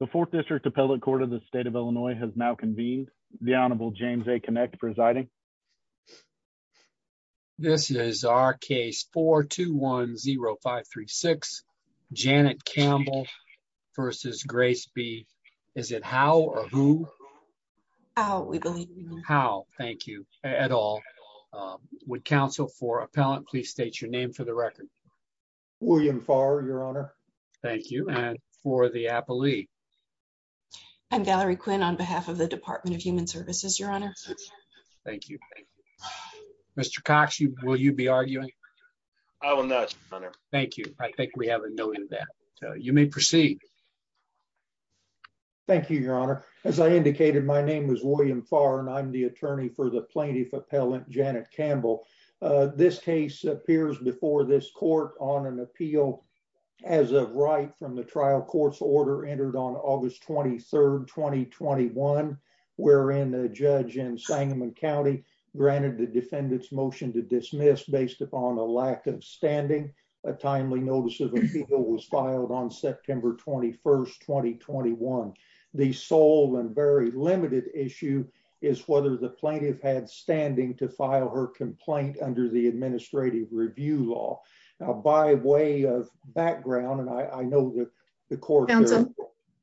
The Fourth District Appellate Court of the State of Illinois has now convened. The Honorable James A. Kinect presiding. This is our case 4-2-1-0-5-3-6. Janet Campbell v. Grace B. Is it Howe or Whoe? We believe it's Howe. Howe, thank you. At all. Would counsel for appellant please state your name for the record. William Farr, Your Honor. Thank you. And for the appellee. I'm Gallery Quinn on behalf of the Department of Human Services, Your Honor. Thank you. Mr. Cox, will you be arguing? I will not, Your Honor. Thank you. I think we have a note of that. You may proceed. Thank you, Your Honor. As I indicated, my name is William Farr and I'm the attorney for the plaintiff appellant, Janet Campbell. This case appears before this court on an appeal as of right from the trial court's order entered on August 23rd, 2021, wherein the judge in Sangamon County granted the defendant's motion to dismiss based upon a lack of standing. A timely notice of appeal was filed on September 21st, 2021. The sole and very limited issue is whether the plaintiff had standing to file her complaint under the administrative review law. By way of background, and I know that the court.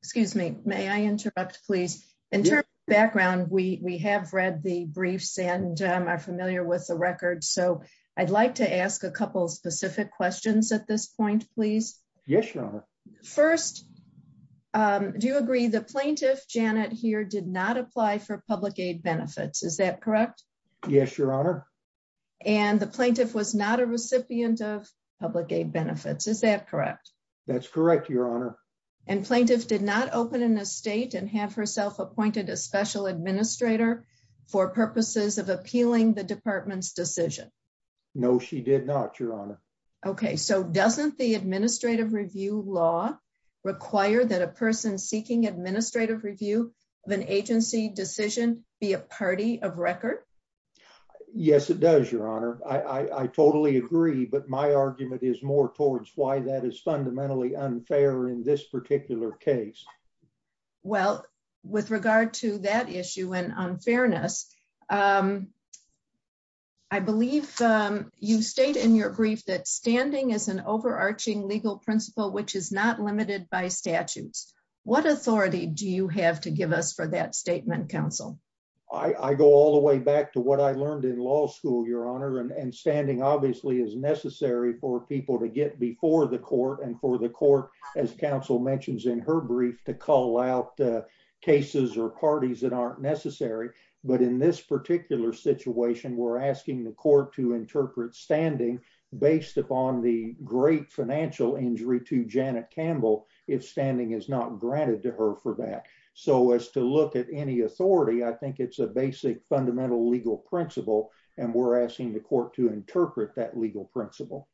Excuse me, may I interrupt, please. In terms of background, we have read the briefs and are familiar with the record. So I'd like to ask a couple of specific questions at this point, please. Yes, Your Honor. First, do you agree the plaintiff, Janet, here did not apply for public aid benefits, is that correct? Yes, Your Honor. And the plaintiff was not a recipient of public aid benefits, is that correct? That's correct, Your Honor. And plaintiff did not open an estate and have herself appointed a special administrator for purposes of appealing the department's decision? No, she did not, Your Honor. OK, so doesn't the administrative review law require that a person seeking administrative review of an agency decision be a party of record? Yes, it does, Your Honor. I totally agree. But my argument is more towards why that is fundamentally unfair in this particular case. Well, with regard to that issue and unfairness, I believe you state in your brief that standing is an overarching legal principle which is not limited by statutes. What authority do you have to give us for that statement, counsel? I go all the way back to what I learned in law school, Your Honor. And standing obviously is necessary for people to get before the court and for the court, as counsel mentions in her brief, to call out cases or parties that aren't necessary. But in this particular situation, we're asking the court to interpret standing based upon the great financial injury to Janet Campbell if standing is not granted to her for that. So as to look at any authority, I think it's a basic fundamental legal principle. And we're asking the court to interpret that legal principle.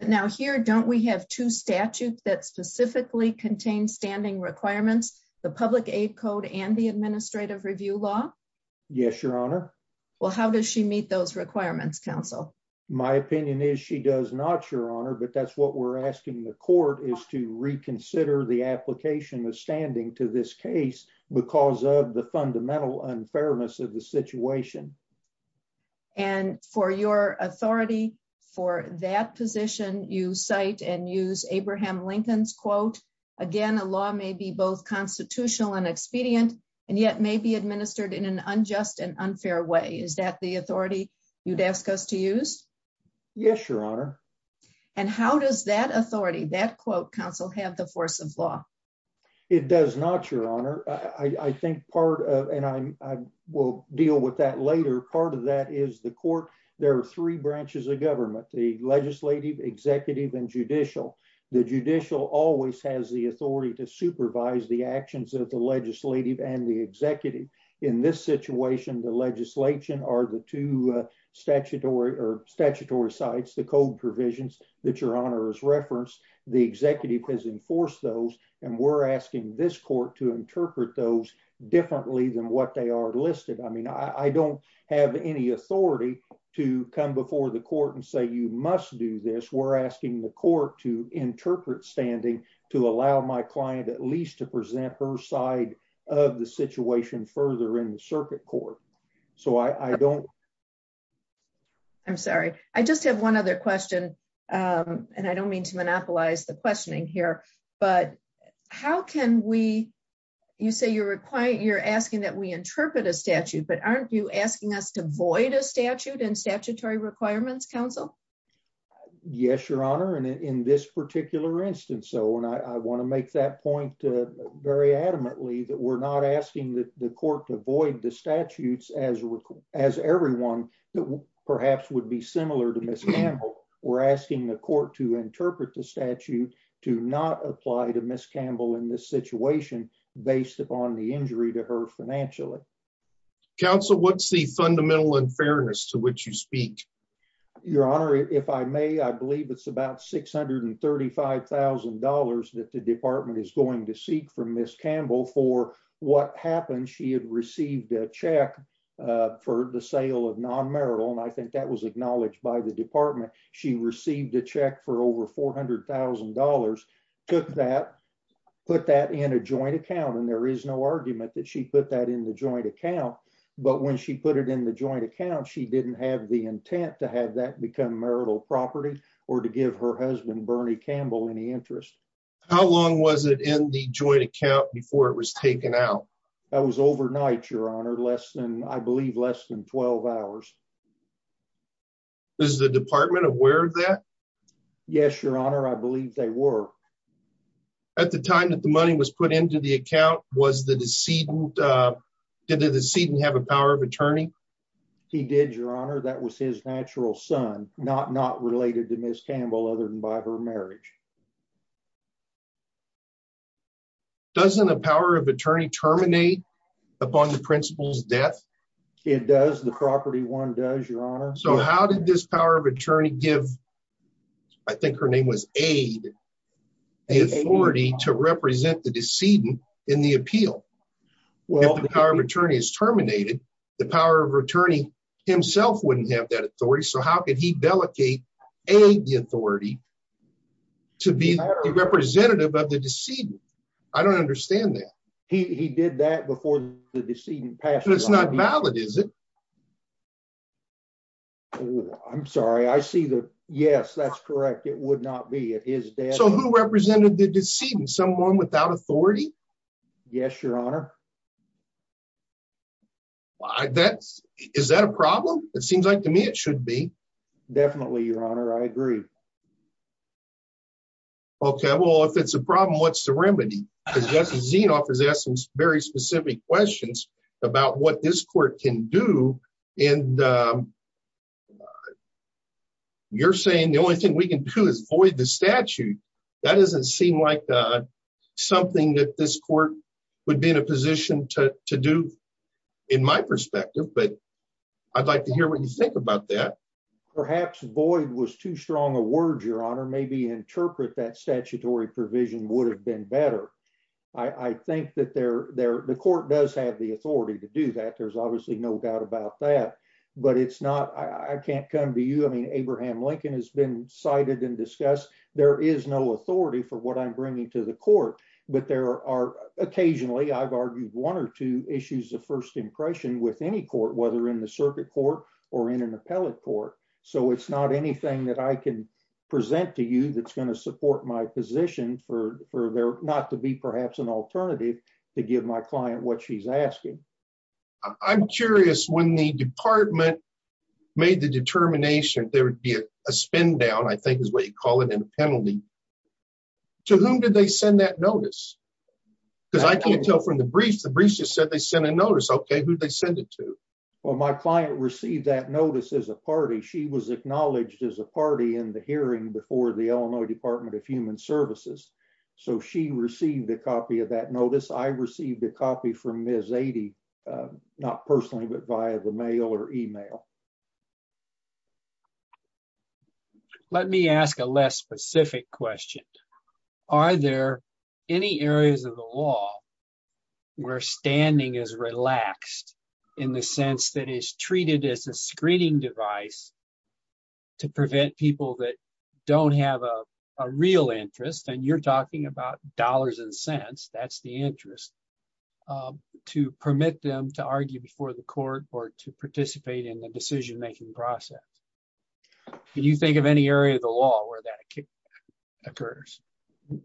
Now here, don't we have two statutes that specifically contain standing requirements, the public aid code and the administrative review law? Yes, Your Honor. Well, how does she meet those requirements, counsel? My opinion is she does not, Your Honor, but that's what we're asking the court is to reconsider the application of standing to this case because of the fundamental unfairness of the situation. And for your authority for that position, you cite and use Abraham Lincoln's quote, again, a law may be both constitutional and expedient, and yet may be administered in an unjust and unfair way. Is that the authority you'd ask us to use? Yes, Your Honor. And how does that authority, that quote, counsel, have the force of law? It does not, Your Honor. I think part of, and I will deal with that later, part of that is the court, there are three branches of government, the legislative, executive, and judicial. The judicial always has the authority to supervise the actions of the legislative and the executive. In this situation, the legislation or the two statutory or statutory sites, the code provisions that Your Honor has referenced, the executive has enforced those, and we're asking this court to interpret those differently than what they are listed. I mean, I don't have any authority to come before the court and say you must do this. We're asking the court to interpret standing to allow my client at least to present her side of the situation further in the circuit court. So I don't. I'm sorry, I just have one other question. And I don't mean to monopolize the questioning here, but how can we, you say you're asking that we interpret a statute, but aren't you asking us to void a statute and statutory requirements, counsel? Yes, Your Honor. And in this particular instance, so and I want to make that point very adamantly that we're not asking the court to void the statutes as, as everyone that perhaps would be similar to Ms. Campbell. We're asking the court to interpret the statute to not apply to Ms. Campbell in this situation, based upon the injury to her financially. Counsel, what's the fundamental unfairness to which you speak? Your Honor, if I may, I believe it's about $635,000 that the department is going to seek from Ms. Campbell for what happened, she had received a check for the sale of non-marital and I think that was acknowledged by the department. She received a check for over $400,000, took that, put that in a joint account and there is no argument that she put that in the joint account. But when she put it in the joint account, she didn't have the intent to have that become marital property or to give her husband Bernie Campbell any interest. How long was it in the joint account before it was taken out? That was overnight, Your Honor, less than, I believe less than 12 hours. Is the department aware of that? Yes, Your Honor, I believe they were. At the time that the money was put into the account, was the decedent, did the decedent have a power of attorney? He did, Your Honor, that was his natural son, not related to Ms. Campbell other than by her marriage. Doesn't a power of attorney terminate upon the principal's death? It does, the property one does, Your Honor. So how did this power of attorney give, I think her name was Aide, the authority to represent the decedent in the appeal? If the power of attorney is terminated, the power of attorney himself wouldn't have that authority, so how could he delegate Aide the authority to be the representative of the decedent? I don't understand that. He did that before the decedent passed away. That's not valid, is it? I'm sorry, I see the, yes, that's correct, it would not be at his death. So who represented the decedent, someone without authority? Yes, Your Honor. Is that a problem? It seems like to me it should be. Definitely, Your Honor, I agree. Okay, well, if it's a problem, what's the remedy? Because Justice Zinoff has asked some very specific questions about what this court can do, and you're saying the only thing we can do is void the statute. That doesn't seem like something that this court would be in a position to do in my perspective, but I'd like to hear what you think about that. Perhaps void was too strong a word, Your Honor, maybe interpret that statutory provision would have been better. I think that the court does have the authority to do that. There's obviously no doubt about that, but it's not, I can't come to you, I mean, Abraham Lincoln has been cited and discussed. There is no authority for what I'm bringing to the court, but there are occasionally, I've argued one or two issues of first impression with any court, whether in the circuit court or in an appellate court. So it's not anything that I can present to you that's going to support my position for there not to be perhaps an alternative to give my client what she's asking. I'm curious when the department made the determination, there would be a spin down, I think is what you call it, and a penalty. To whom did they send that notice? Because I can't tell from the briefs, the briefs just said they sent a notice. Okay, who'd they send it to? Well, my client received that notice as a party. She was acknowledged as a party in the hearing before the Illinois Department of Human Services. So she received a copy of that notice. I received a copy from Ms. Adie, not personally, but via the mail or email. Let me ask a less specific question. Are there any areas of the law where standing is relaxed in the sense that is treated as a screening device to prevent people that don't have a real interest, and you're talking about dollars and cents, that's the interest, to permit them to argue before the court or to participate in the decision making process? Can you think of any area of the law where that occurs?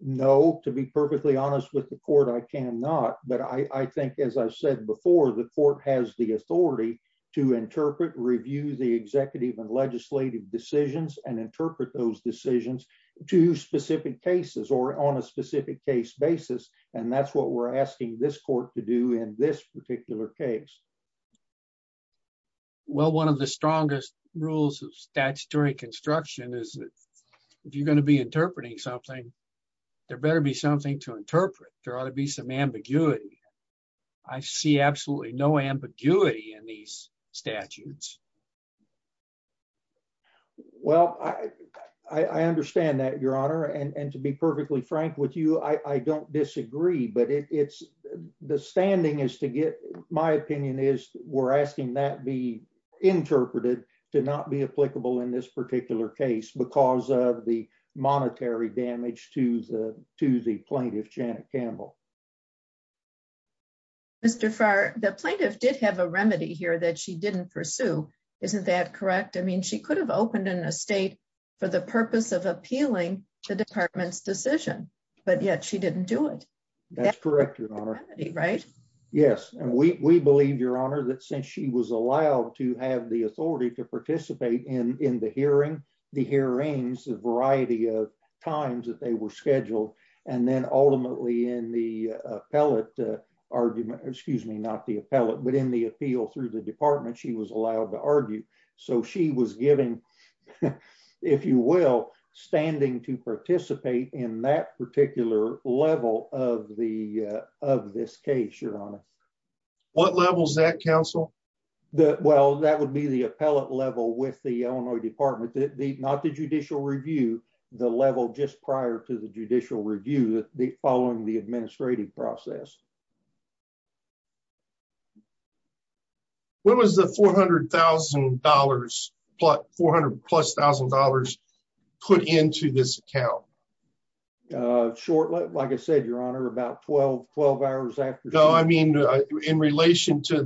No, to be perfectly honest with the court, I cannot. But I think, as I've said before, the court has the authority to interpret, review the executive and legislative decisions and interpret those decisions to specific cases or on a specific case basis. And that's what we're asking this court to do in this particular case. Well, one of the strongest rules of statutory construction is that if you're going to be interpreting something, there better be something to interpret. There ought to be some ambiguity. I see absolutely no ambiguity in these statutes. Well, I understand that, Your Honor. And to be perfectly frank with you, I don't disagree. But the standing is to get, my opinion is, we're asking that be interpreted to not be applicable in this particular case because of the monetary damage to the plaintiff, Janet Campbell. Mr. Farr, the plaintiff did have a remedy here that she didn't pursue. Isn't that correct? I mean, she could have opened an estate for the purpose of appealing the department's decision, but yet she didn't do it. That's correct, Your Honor. Right? Yes. And we believe, Your Honor, that since she was allowed to have the authority to participate in the hearing, the hearings, the variety of times that they were scheduled, and then ultimately in the appellate argument, excuse me, not the appellate, but in the appeal through the department, she was allowed to argue. So she was given, if you will, standing to participate in that particular level of this case, Your Honor. What level is that, counsel? Well, that would be the appellate level with the Illinois Department, not the judicial review, the level just prior to the judicial review following the administrative process. When was the $400,000, plus $400,000 put into this account? Short, like I said, Your Honor, about 12 hours after. No, I mean, in relation to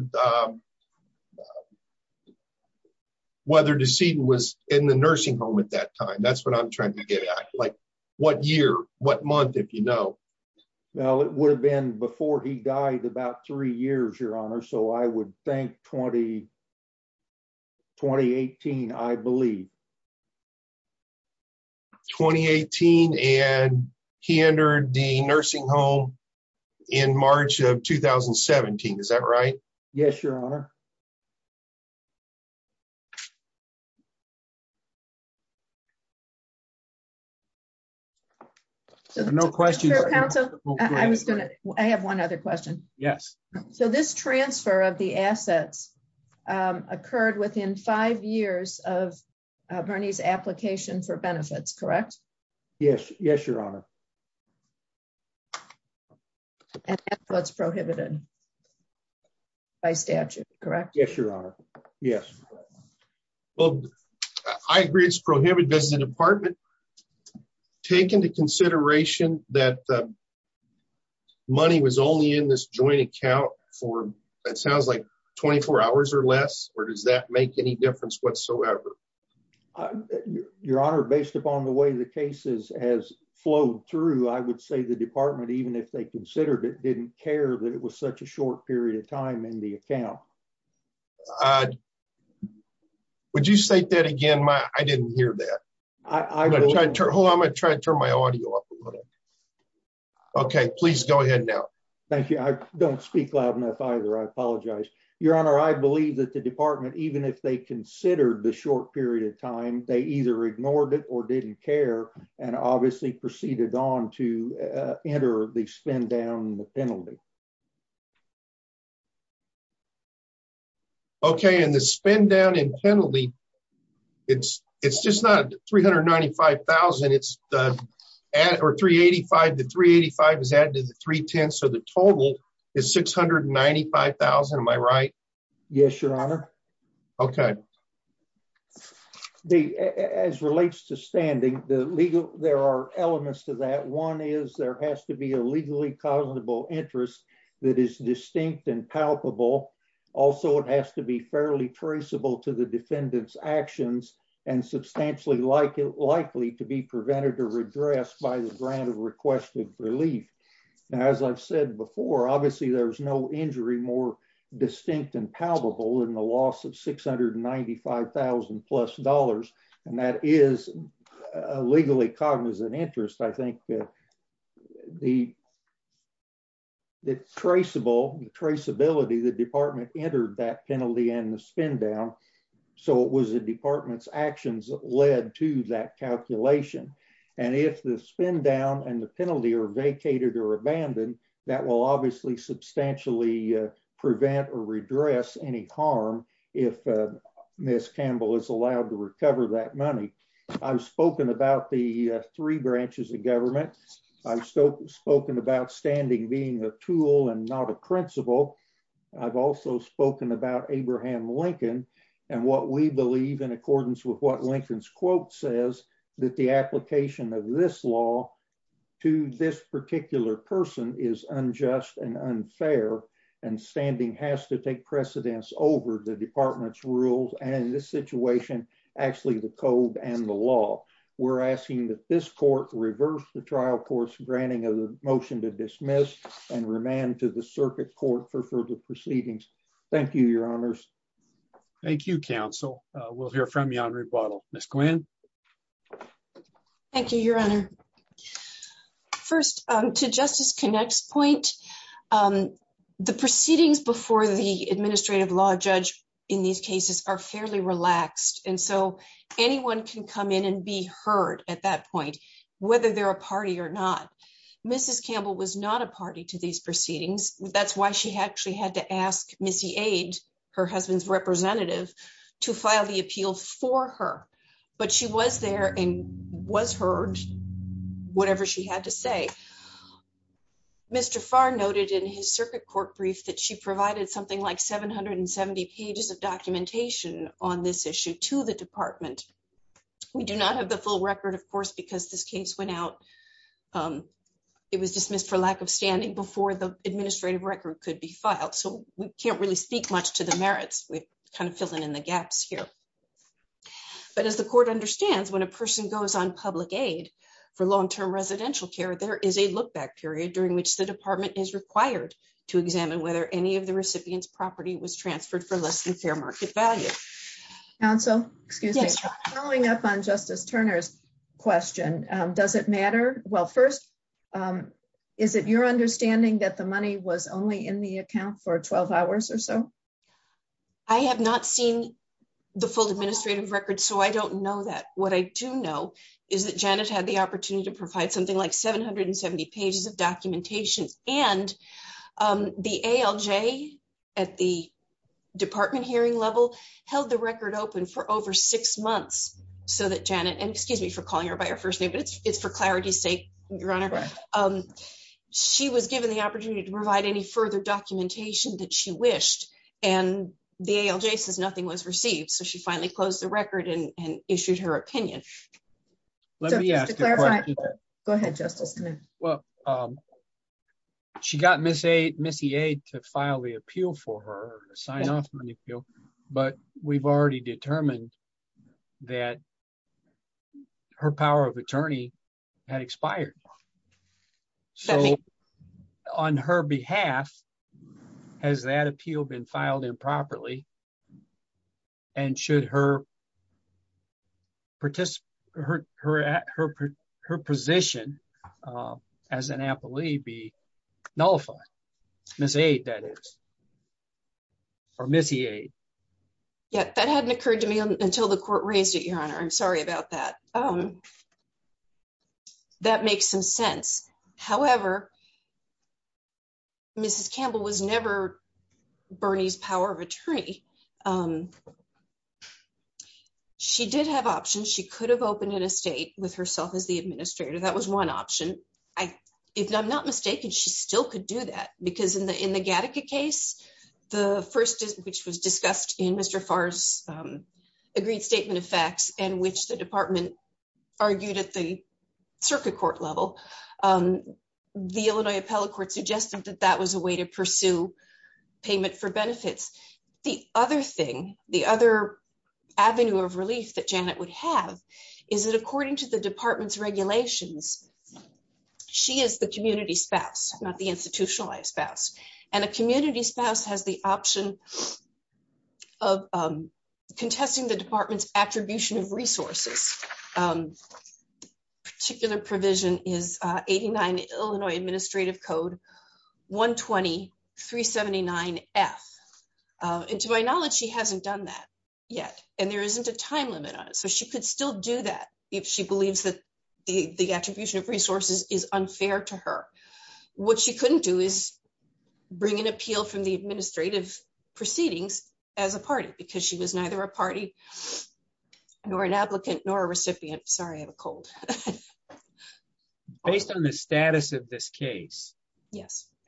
whether Deceden was in the nursing home at that time. That's what I'm trying to get at. Like, what year, what month, if you know? Well, it would have been before he died, about three years, Your Honor. So I would think 2018, I believe. 2018, and he entered the nursing home in March of 2017. Is that right? Yes, Your Honor. Thank you, Your Honor. No questions, counsel. I was gonna, I have one other question. Yes. So this transfer of the assets occurred within five years of Bernie's application for benefits, correct? Yes, yes, Your Honor. And that's what's prohibited by statute, correct? Yes, Your Honor. Yes. Well, I agree it's prohibited. Does the department take into consideration that money was only in this joint account for, it sounds like, 24 hours or less? Or does that make any difference whatsoever? Your Honor, based upon the way the cases has flowed through, I would say the department, even if they considered it, didn't care that it was such a short period of time in the account. Would you say that again? I didn't hear that. Hold on, I'm gonna try to turn my audio up a little. Okay, please go ahead now. Thank you. I don't speak loud enough either. I apologize. Your Honor, I believe that the department, even if they considered the short period of time, they either ignored it or didn't care, and obviously proceeded on to enter the spend down penalty. Okay, and the spend down in penalty, it's just not $395,000, it's $385,000. The $385,000 is added to the $310,000, so the total is $695,000, am I right? Yes, Your Honor. Okay. As relates to standing, there are elements to that. One is there has to be a legally causable interest that is distinct and palpable. Also, it has to be fairly traceable to the defendant's actions and substantially likely to be prevented or redressed by the grant of request of relief. Now, as I've said before, obviously there's no injury more distinct and palpable than the loss of $695,000 plus, and that is a legally cognizant interest. I think the traceability, the department entered that penalty and the spend down, so it was the department's actions that led to that calculation. And if the spend down and the penalty are vacated or abandoned, that will obviously substantially prevent or redress any harm if Ms. Campbell is allowed to recover that money. I've spoken about the three branches of government. I've spoken about standing being a tool and not a principle. I've also spoken about Abraham Lincoln and what we believe in accordance with what Lincoln's quote says, that the application of this law to this particular person is unjust and unfair, and standing has to take precedence over the department's rules and in this situation, actually the code and the law. We're asking that this court reverse the trial court's granting of the motion to dismiss and remand to the circuit court for further proceedings. Thank you, Your Honors. Thank you, counsel. We'll hear from you on rebuttal. Ms. Quinn. Thank you, Your Honor. First, to Justice Connick's point, the proceedings before the administrative law judge in these cases are fairly relaxed, and so anyone can come in and be heard at that point, whether they're a party or not. Mrs. Campbell was not a party to these proceedings. That's why she actually had to ask Missy Ade, her husband's representative, to file the appeal for her. But she was there and was heard, whatever she had to say. Mr. Farr noted in his circuit court brief that she provided something like 770 pages of documentation on this issue to the department. We do not have the full record, of course, because this case went out. It was dismissed for lack of standing before the administrative record could be filed, so we can't really speak much to the merits. We've kind of filled in the gaps here. But as the court understands, when a person goes on public aid for long term residential care, there is a look back period during which the department is required to examine whether any of the recipients property was transferred for less than fair market value. Counsel, excuse me. Following up on Justice Turner's question, does it matter? Well, first, is it your understanding that the money was only in the account for 12 hours or so? I have not seen the full administrative record, so I don't know that. What I do know is that Janet had the opportunity to provide something like 770 pages of documentation, and the ALJ at the department hearing level held the record open for over six months so that Janet and excuse me for calling her by her first name. It's for clarity's sake, Your Honor. She was given the opportunity to provide any further documentation that she wished, and the ALJ says nothing was received, so she finally closed the record and issued her opinion. Go ahead, Justice. Well, she got Missy to file the appeal for her to sign off on the appeal, but we've already determined that her power of attorney had expired. So, on her behalf. Has that appeal been filed improperly. And should her position as an appellee be nullified? Missy Aide, that is. Or Missy Aide. Yeah, that hadn't occurred to me until the court raised it, Your Honor. I'm sorry about that. That makes some sense. However, Mrs. Campbell was never Bernie's power of attorney. She did have options, she could have opened an estate with herself as the administrator, that was one option. If I'm not mistaken, she still could do that, because in the in the Gattaca case, the first, which was discussed in Mr. Farr's agreed statement of facts, and which the department argued at the circuit court level, the Illinois appellate court suggested that that was a way to pursue payment for benefits. The other thing, the other avenue of relief that Janet would have is that according to the department's regulations. She is the community spouse, not the institutionalized spouse, and a community spouse has the option of contesting the department's attribution of resources. This particular provision is 89 Illinois Administrative Code 120-379-F. And to my knowledge, she hasn't done that yet, and there isn't a time limit on it, so she could still do that if she believes that the attribution of resources is unfair to her. What she couldn't do is bring an appeal from the administrative proceedings as a party, because she was neither a party, nor an applicant, nor a recipient. Sorry, I have a cold. Based on the status of this case,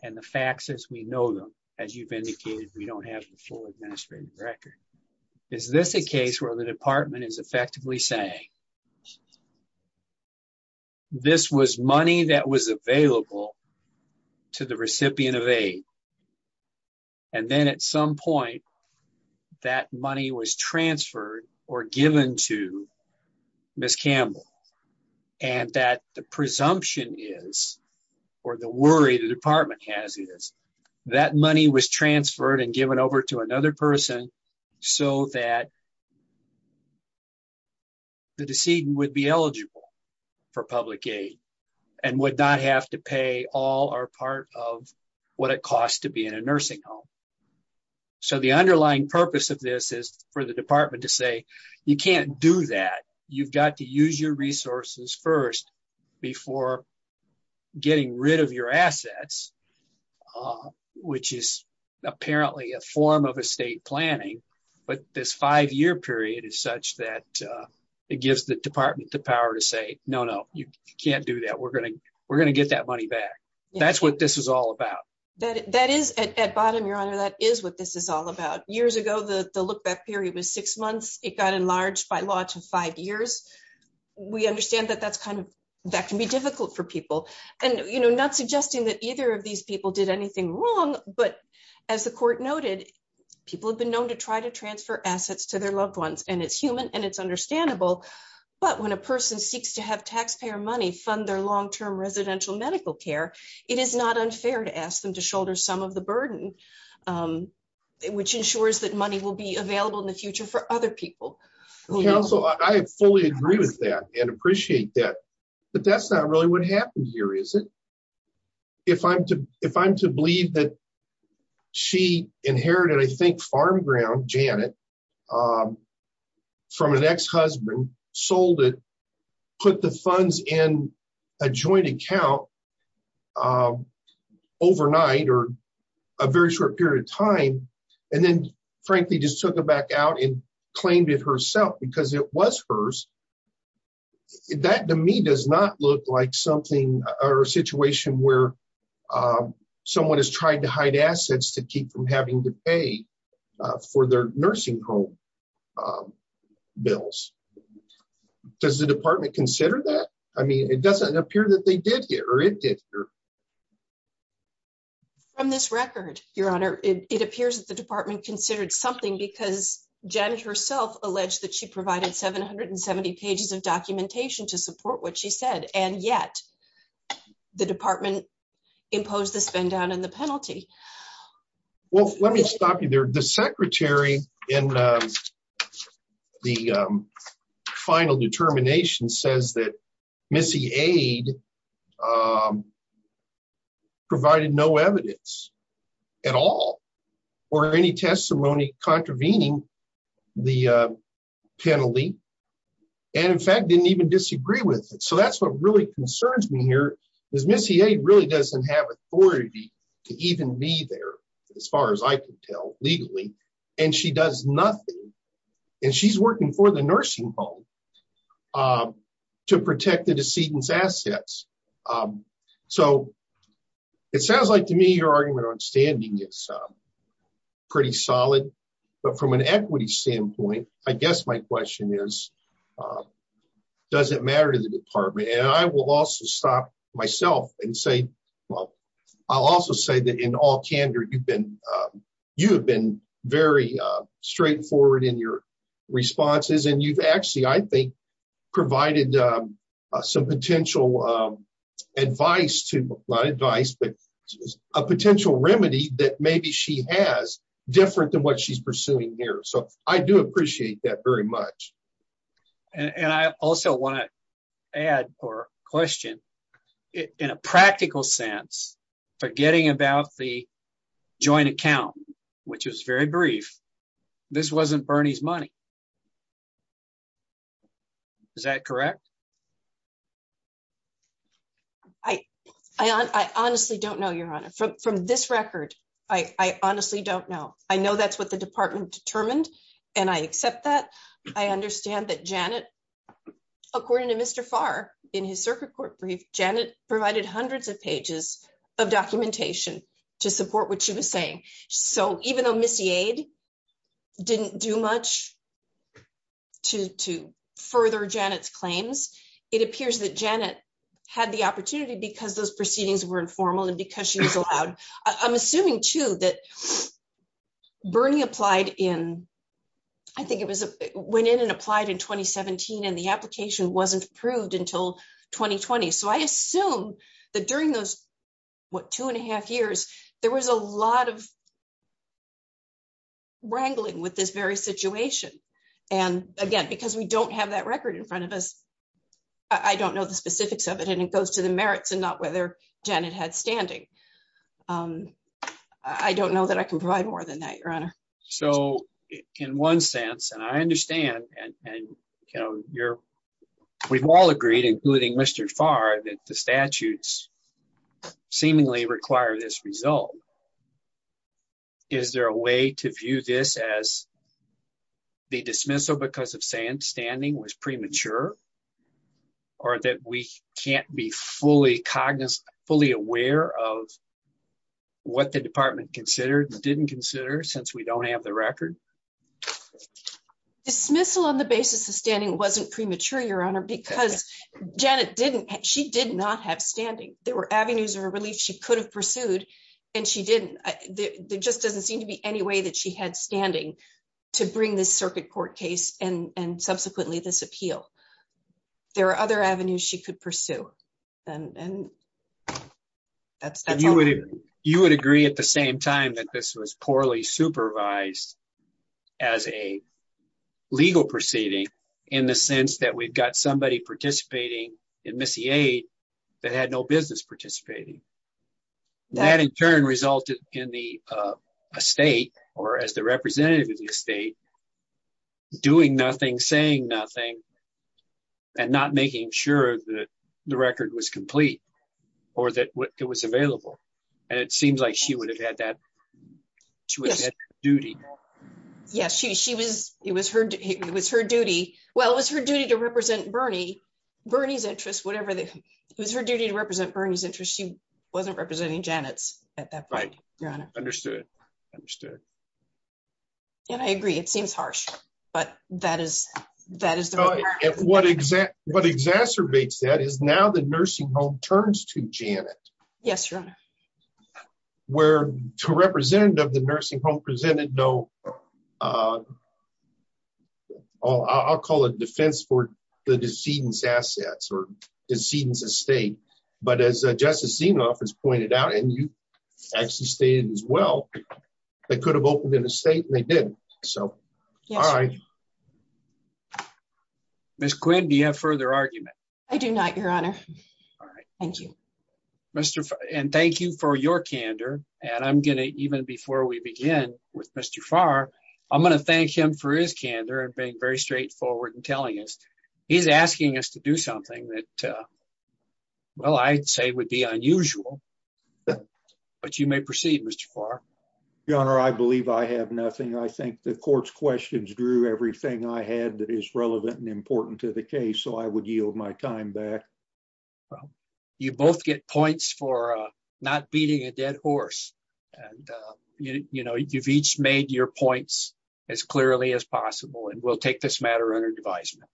and the facts as we know them, as you've indicated, we don't have the full administrative record. Is this a case where the department is effectively saying, this was money that was available to the recipient of aid, and then at some point, that money was transferred or given to Ms. Campbell, and that the presumption is, or the worry the department has is, that money was transferred and given over to another person, so that the decedent would be eligible for public aid, and would not have to pay all or part of what it costs to be in a nursing home. So the underlying purpose of this is for the department to say, you can't do that. You've got to use your resources first before getting rid of your assets, which is apparently a form of estate planning, but this five-year period is such that it gives the department the power to say, no, no, you can't do that. We're going to get that money back. That's what this is all about. At bottom, Your Honor, that is what this is all about. Years ago, the look-back period was six months. It got enlarged by law to five years. We understand that that can be difficult for people. Not suggesting that either of these people did anything wrong, but as the court noted, people have been known to try to transfer assets to their loved ones, and it's human and it's understandable, but when a person seeks to have taxpayer money fund their long-term residential medical care, it is not unfair to ask them to shoulder some of the burden, which ensures that money will be available in the future for other people. Counsel, I fully agree with that and appreciate that, but that's not really what happened here, is it? If I'm to believe that she inherited, I think, farm ground, Janet, from an ex-husband, sold it, put the funds in a joint account overnight or a very short period of time, and then, frankly, just took it back out and claimed it herself because it was hers, that, to me, does not look like something or a situation where someone has tried to hide assets to keep from having to pay for their nursing home bills. Does the department consider that? I mean, it doesn't appear that they did here or it did here. From this record, Your Honor, it appears that the department considered something because Janet herself alleged that she provided 770 pages of documentation to support what she said, and yet the department imposed the spend-down and the penalty. Well, let me stop you there. The secretary in the final determination says that Missy Aide provided no evidence at all or any testimony contravening the penalty and, in fact, didn't even disagree with it. So that's what really concerns me here, is Missy Aide really doesn't have authority to even be there, as far as I can tell, legally, and she does nothing, and she's working for the nursing home to protect the decedent's assets. So it sounds like, to me, your argument on standing is pretty solid, but from an equity standpoint, I guess my question is, does it matter to the department? And I will also stop myself and say, well, I'll also say that, in all candor, you've been very straightforward in your responses, and you've actually, I think, provided some potential advice to, not advice, but a potential remedy that maybe she has different than what she's pursuing here. So I do appreciate that very much. And I also want to add or question, in a practical sense, forgetting about the joint account, which was very brief, this wasn't Bernie's money. Is that correct? I honestly don't know, Your Honor. From this record, I honestly don't know. I know that's what the department determined, and I accept that. I understand that Janet, according to Mr. Farr, in his circuit court brief, Janet provided hundreds of pages of documentation to support what she was saying. So even though Ms. Yade didn't do much to further Janet's claims, it appears that Janet had the opportunity because those proceedings were informal and because she was allowed. I'm assuming, too, that Bernie applied in, I think it was, went in and applied in 2017 and the application wasn't approved until 2020. So I assume that during those, what, two and a half years, there was a lot of wrangling with this very situation. And again, because we don't have that record in front of us, I don't know the specifics of it, and it goes to the merits and not whether Janet had standing. I don't know that I can provide more than that, Your Honor. So in one sense, and I understand, and we've all agreed, including Mr. Farr, that the statutes seemingly require this result. Is there a way to view this as the dismissal because of standing was premature? Or that we can't be fully cognizant, fully aware of what the department considered and didn't consider since we don't have the record? Dismissal on the basis of standing wasn't premature, Your Honor, because Janet didn't, she did not have standing. There were avenues of relief she could have pursued, and she didn't. There just doesn't seem to be any way that she had standing to bring this circuit court case and subsequently this appeal. There are other avenues she could pursue. And that's all. You would agree at the same time that this was poorly supervised as a legal proceeding in the sense that we've got somebody participating in Missy 8 that had no business participating. That in turn resulted in the state, or as the representative of the state, doing nothing, saying nothing, and not making sure that the record was complete or that it was available. And it seems like she would have had that duty. Yes, she was. It was her. It was her duty. Well, it was her duty to represent Bernie. Bernie's interest, whatever that was her duty to represent Bernie's interest. She wasn't representing Janet's at that point. Understood. Understood. And I agree, it seems harsh, but that is, that is what exact what exacerbates that is now the nursing home turns to Janet. Yes, Your Honor. Where to represent of the nursing home presented no. Oh, I'll call it defense for the decedents assets or decedents estate, but as Justice Zinoff has pointed out and you actually stated as well. They could have opened an estate and they did. So, all right. Miss Quinn, do you have further argument. I do not, Your Honor. All right. Mr. And thank you for your candor. And I'm going to even before we begin with Mr far. I'm going to thank him for his candor and being very straightforward and telling us he's asking us to do something that Well, I'd say would be unusual. But you may proceed, Mr for Your Honor, I believe I have nothing. I think the courts questions drew everything I had that is relevant and important to the case. So I would yield my time back. Well, you both get points for not beating a dead horse. And, you know, you've each made your points as clearly as possible. And we'll take this matter under advisement.